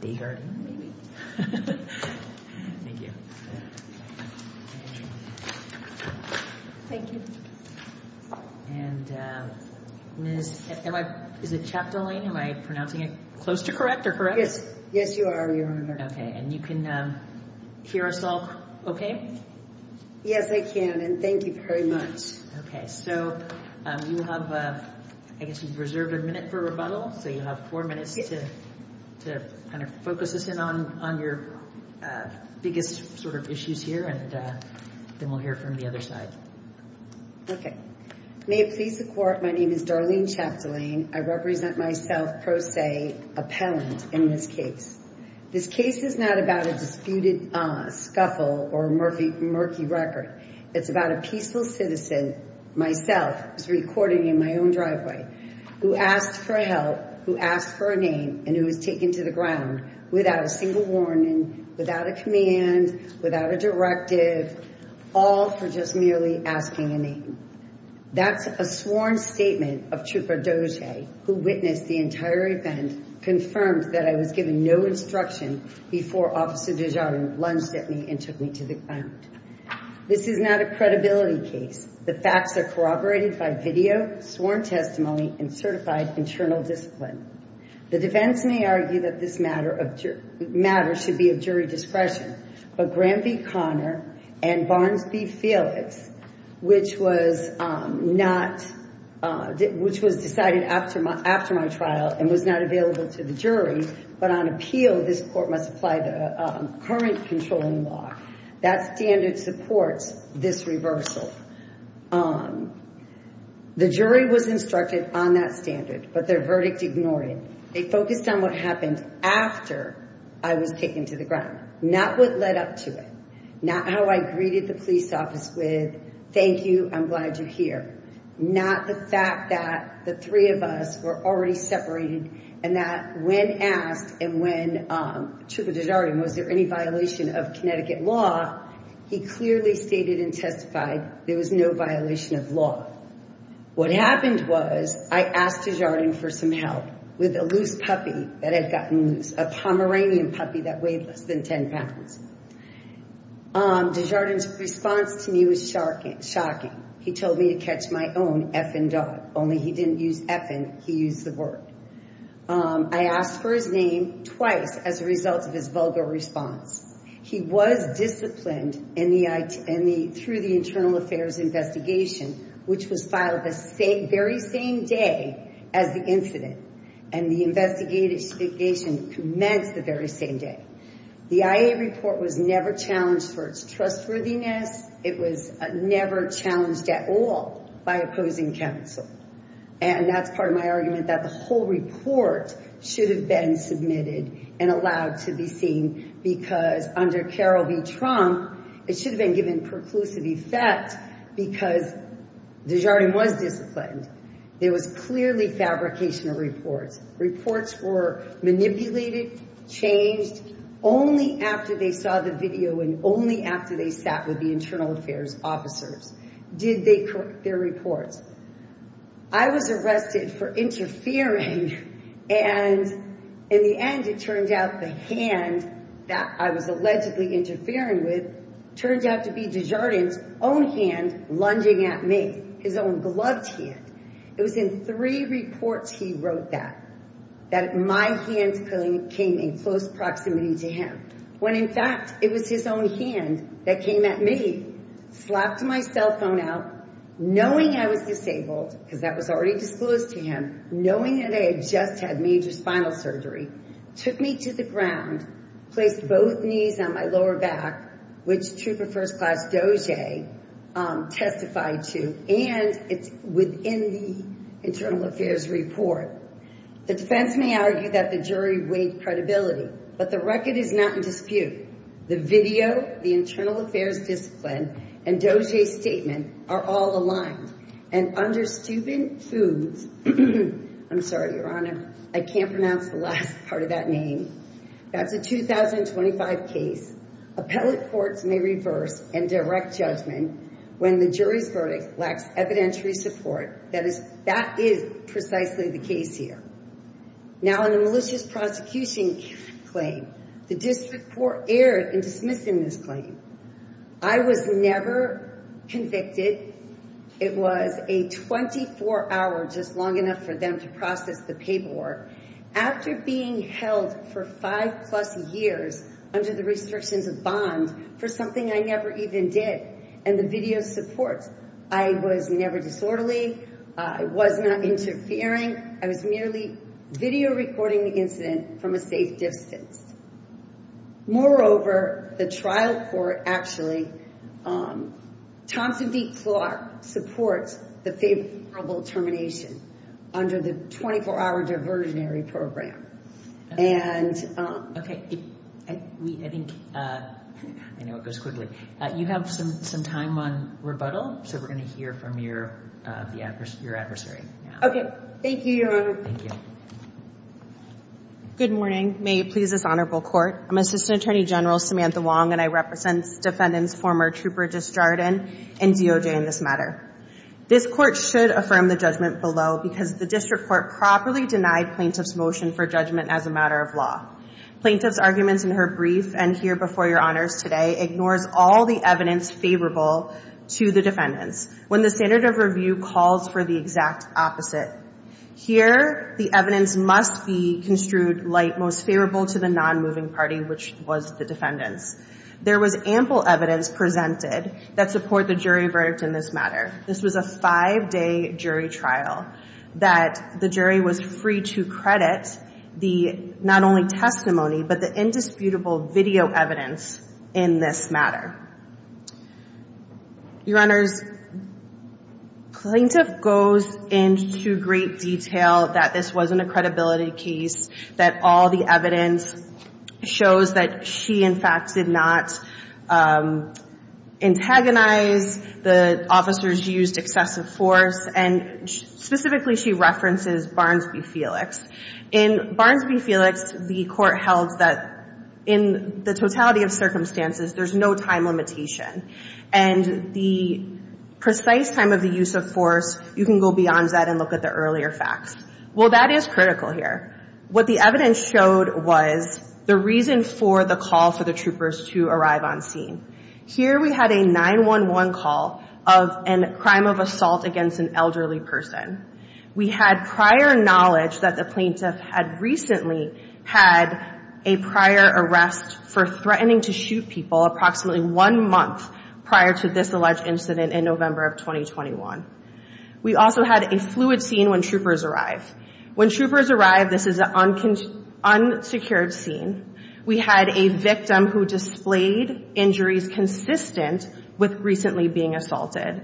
Desjardin, maybe. Thank you. Thank you. And is it Chapdelaine? Am I pronouncing it close to correct or correct? Yes. Yes, you are, Your Honor. Okay. And you can hear us all okay? Yes, I can. And thank you very much. Okay. So you have, I guess you've reserved a minute for rebuttal. So you have four minutes to kind of focus us in on your biggest sort of issues here, and then we'll hear from the other side. Okay. May it please the Court, my name is Darlene Chapdelaine. I represent myself pro se appellant in this case. This case is not about a disputed scuffle or murky record. It's about a peaceful citizen, myself, who's recording in my own driveway, who asked for help, who asked for a name, and who was taken to the ground without a single warning, without a command, without a directive, all for just merely asking a name. That's a sworn statement of Trooper Doge, who witnessed the entire event, confirmed that I was given no instruction before Officer DeJarvin lunged at me and took me to the ground. This is not a credibility case. The facts are corroborated by video, sworn testimony, and certified internal discipline. The defense may argue that this matter should be of jury discretion, but Graham v. Conner and Barnes v. Felix, which was decided after my trial and was not available to the jury, but on appeal, this Court must apply the current controlling law. That standard supports this reversal. The jury was instructed on that standard, but their verdict ignored it. They focused on what happened after I was taken to the ground, not what led up to it, not how I greeted the police office with, thank you, I'm here, not the fact that the three of us were already separated and that when asked and when Trooper DeJarvin was there any violation of Connecticut law, he clearly stated and testified there was no violation of law. What happened was I asked DeJarvin for some help with a loose puppy that had gotten loose, a Pomeranian puppy that weighed less than 10 pounds. DeJarvin's response to me was shocking. He told me to catch my own effing dog, only he didn't use effing, he used the word. I asked for his name twice as a result of his vulgar response. He was disciplined through the internal affairs investigation, which was filed the very same day as the incident, and the investigation commenced the very same day. The IA report was never challenged for its trustworthiness, never challenged at all by opposing counsel, and that's part of my argument that the whole report should have been submitted and allowed to be seen because under Carol B. Trump, it should have been given preclusive effect because DeJarvin was disciplined. There was clearly fabricational reports. Reports were manipulated, changed only after they saw the video and only after they sat with the internal affairs officers. Did they correct their reports? I was arrested for interfering, and in the end, it turned out the hand that I was allegedly interfering with turned out to be DeJarvin's own hand lunging at me, his own gloved hand. It was in three reports he wrote that, that my hand came in close proximity to him, when in fact, it was his own hand that came at me, slapped my cell phone out, knowing I was disabled because that was already disclosed to him, knowing that I had just had major spinal surgery, took me to the ground, placed both knees on my lower back, which Trooper First Class Doge testified to, and it's within the internal affairs report. The defense may argue that the jury weighed credibility, but the record is not in dispute. The video, the internal affairs discipline, and Doge's statement are all aligned, and under Steuben Foods, I'm sorry, Your Honor, I can't pronounce the last part of that name. That's a 2025 case. Appellate courts may reverse and direct judgment when the jury's verdict lacks evidentiary support. That is precisely the case here. Now, in the malicious prosecution claim, the district court erred in dismissing this claim. I was never convicted. It was a 24-hour, just long enough for them to process the paperwork. After being held for five plus years under the restrictions of bond for something I never even did, and the video supports, I was never disorderly. I was not interfering. I was merely video recording the incident from a safe distance. Moreover, the trial court actually, Thompson v. Clark, supports the favorable termination under the 24-hour diversionary program, and... Okay. I think... I know it goes quickly. You have some time on rebuttal, so we're going to hear from your adversary now. Okay. Thank you, Your Honor. Thank you. Good morning. May it please this honorable court. I'm Assistant Attorney General Samantha Wong, and I represent defendants former Trooper Disjardin and Doge in this matter. This court should affirm the judgment below because the district court properly denied plaintiff's motion for judgment as a matter of law. Plaintiff's arguments in her brief, and here before your honors today, ignores all the evidence favorable to the defendants when the standard of review calls for the exact opposite. Here, the evidence must be construed like most favorable to the non-moving party, which was the defendants. There was ample evidence presented that support the jury verdict in this matter. This was a five-day jury trial that the jury was free to credit the, not only testimony, but the indisputable video evidence in this matter. Your honors, plaintiff goes into great detail that this wasn't a credibility case, that all the evidence shows that she, in fact, did not antagonize the officers used excessive force, and specifically, she references Barnes v. Felix. In Barnes v. Felix, the court held that in the totality of circumstances, there's no time limitation. And the precise time of the use of force, you can go beyond that and look at the earlier facts. Well, that is critical here. What the evidence showed was the reason for the call for the troopers to arrive on scene. Here, we had a 911 call of a crime of assault against an elderly person. We had prior knowledge that the plaintiff had recently had a prior arrest for threatening to shoot people approximately one month prior to this alleged incident in November of 2021. We also had a fluid scene when troopers arrived. When troopers arrived, this is an unsecured scene. We had a victim who displayed injuries consistent with recently being assaulted.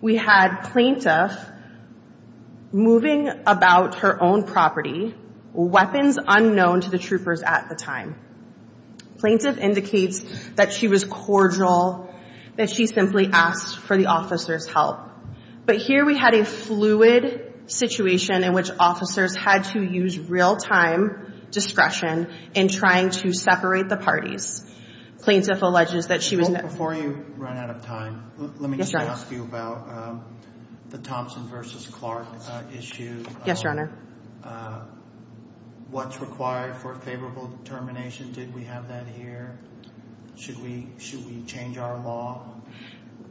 We had plaintiff moving about her own property, weapons unknown to the troopers at the time. Plaintiff indicates that she was cordial, that she simply asked for the officer's help. But here, we had a fluid situation in which officers had to use real-time discretion in trying to separate the parties. Plaintiff alleges that she was... Before you run out of time, let me just ask you about the Thompson v. Clark issue. Yes, Your Honor. What's required for favorable determination? Did we have that here? Should we change our law?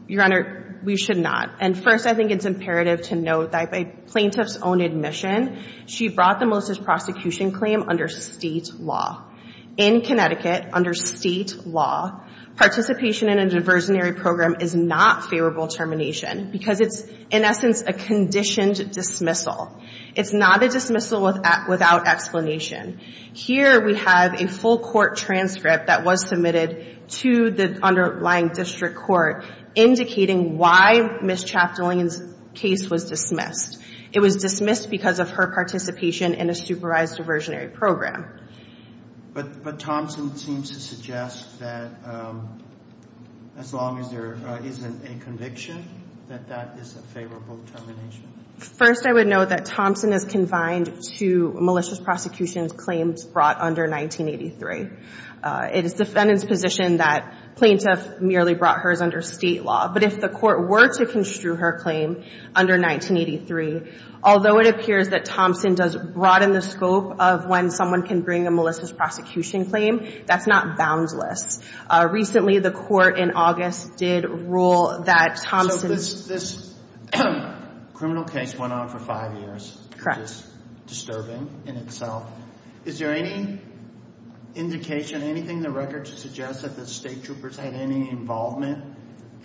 Your Honor, we should not. And first, I think it's imperative to note that by plaintiff's own admission, she brought the Melissa's prosecution claim under state law. In Connecticut, under state law, participation in a diversionary program is not favorable termination because it's, in essence, a conditioned dismissal. It's not a dismissal without explanation. Here, we have a full court transcript that was submitted to the underlying district court indicating why Ms. Chaptalin's case was dismissed. It was dismissed because of her participation in a supervised diversionary program. But Thompson seems to suggest that as long as there isn't a conviction, that that is a favorable termination. First, I would note that Thompson is confined to Melissa's prosecution's claims brought under 1983. It is defendant's position that plaintiff merely brought hers under state law. But if the court were to construe her claim under 1983, although it appears that Thompson does broaden the scope of when someone can bring a Melissa's prosecution claim, that's not boundless. Recently, the court in August did rule that Thompson... So this criminal case went on for five years. Correct. It's disturbing in itself. Is there any indication, anything in the record to suggest that the state troopers had any involvement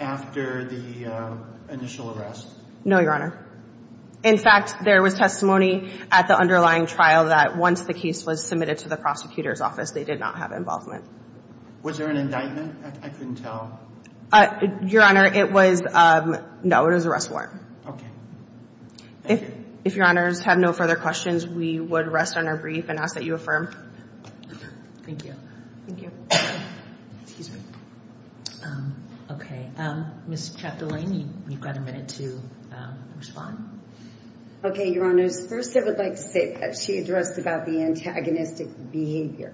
after the initial arrest? No, Your Honor. In fact, there was testimony at the underlying trial that once the case was submitted to the prosecutor's office, they did not have involvement. Was there an indictment? I couldn't tell. Your Honor, it was... No, it was arrest warrant. Okay. Thank you. If Your Honors have no further questions, we would rest on our brief and ask that you affirm. Thank you. Thank you. Excuse me. Okay. Ms. Ciappellini, you've got a minute to respond. Okay, Your Honors. First, I would like to say that she addressed about the antagonistic behavior.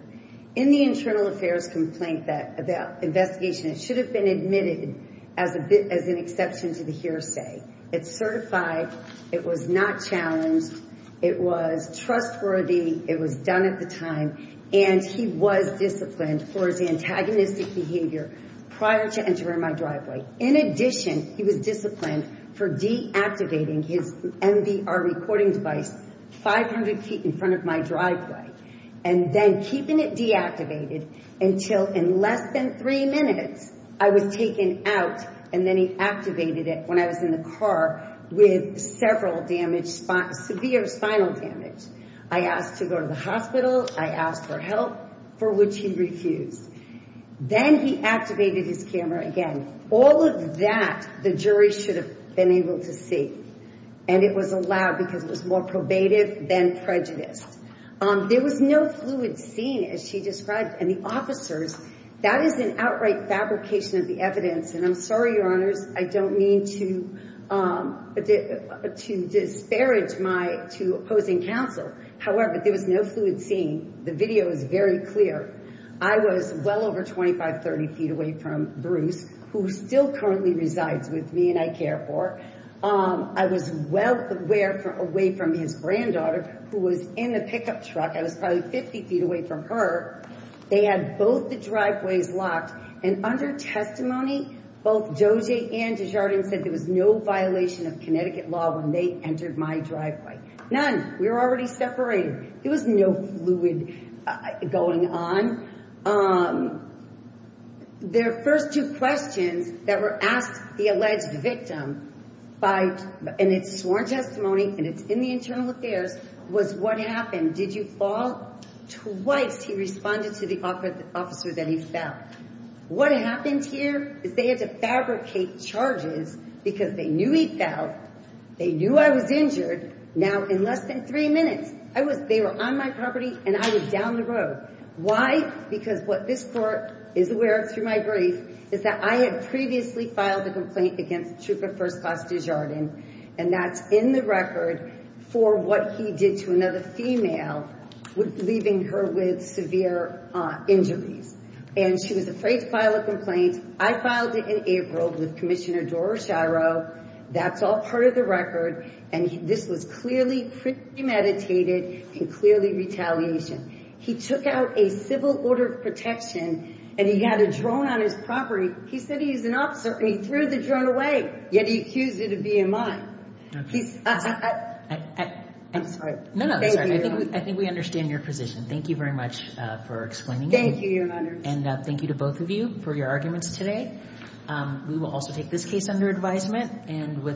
In the internal affairs complaint, the investigation, it should have been admitted as an exception to the hearsay. It's certified. It was not challenged. It was trustworthy. It was done at the time. And he was disciplined for his antagonistic behavior prior to entering my driveway. In addition, he was disciplined for deactivating his MDR recording device 500 feet in front of my driveway and then keeping it deactivated until in less than three minutes, I was taken out. And then he activated it when I was in the car with several severe spinal damage. I asked to go to the hospital. I asked for help, for which he refused. Then he activated his camera again. All of that, the jury should have been able to see. And it was allowed because it was more probative than prejudiced. There was no fluid scene, as she described. And the officers, that is an outright fabrication of the evidence. And I'm sorry, Your Honors, I don't mean to disparage my opposing counsel. However, there was no fluid scene. The video is very clear. I was well over 25, 30 feet away from Bruce, who still currently resides with me and I care for. I was well away from his granddaughter, who was in the pickup truck. I was probably 50 feet away from her. They had both the driveways locked. And under testimony, both Dojay and Desjardins said there was no violation of Connecticut law when they entered my driveway. None. We were already separated. There was no fluid going on. Their first two questions that were asked the alleged victim, and it's sworn testimony and it's in the internal affairs, was what happened? Did you fall? Twice he responded to the officer that he fell. What happened here is they had to fabricate charges because they knew he fell. They knew I was injured. Now, in less than three minutes, they were on my property and I was down the road. Why? Because what this court is aware of through my brief, is that I had previously filed a complaint against Trooper First Class Desjardins. And that's in the record for what he did to another female, leaving her with severe injuries. And she was afraid to file a complaint. I filed it in April with Commissioner Dora Shiro. That's all part of the record. And this was clearly meditated and clearly retaliation. He took out a civil order of protection and he had a drone on his property. He said he's an officer and he threw the drone away. Yet he accused it of BMI. I think we understand your position. Thank you very much for explaining. Thank you, Your Honor. And thank you to both of you for your arguments today. We will also take this case under advisement. And with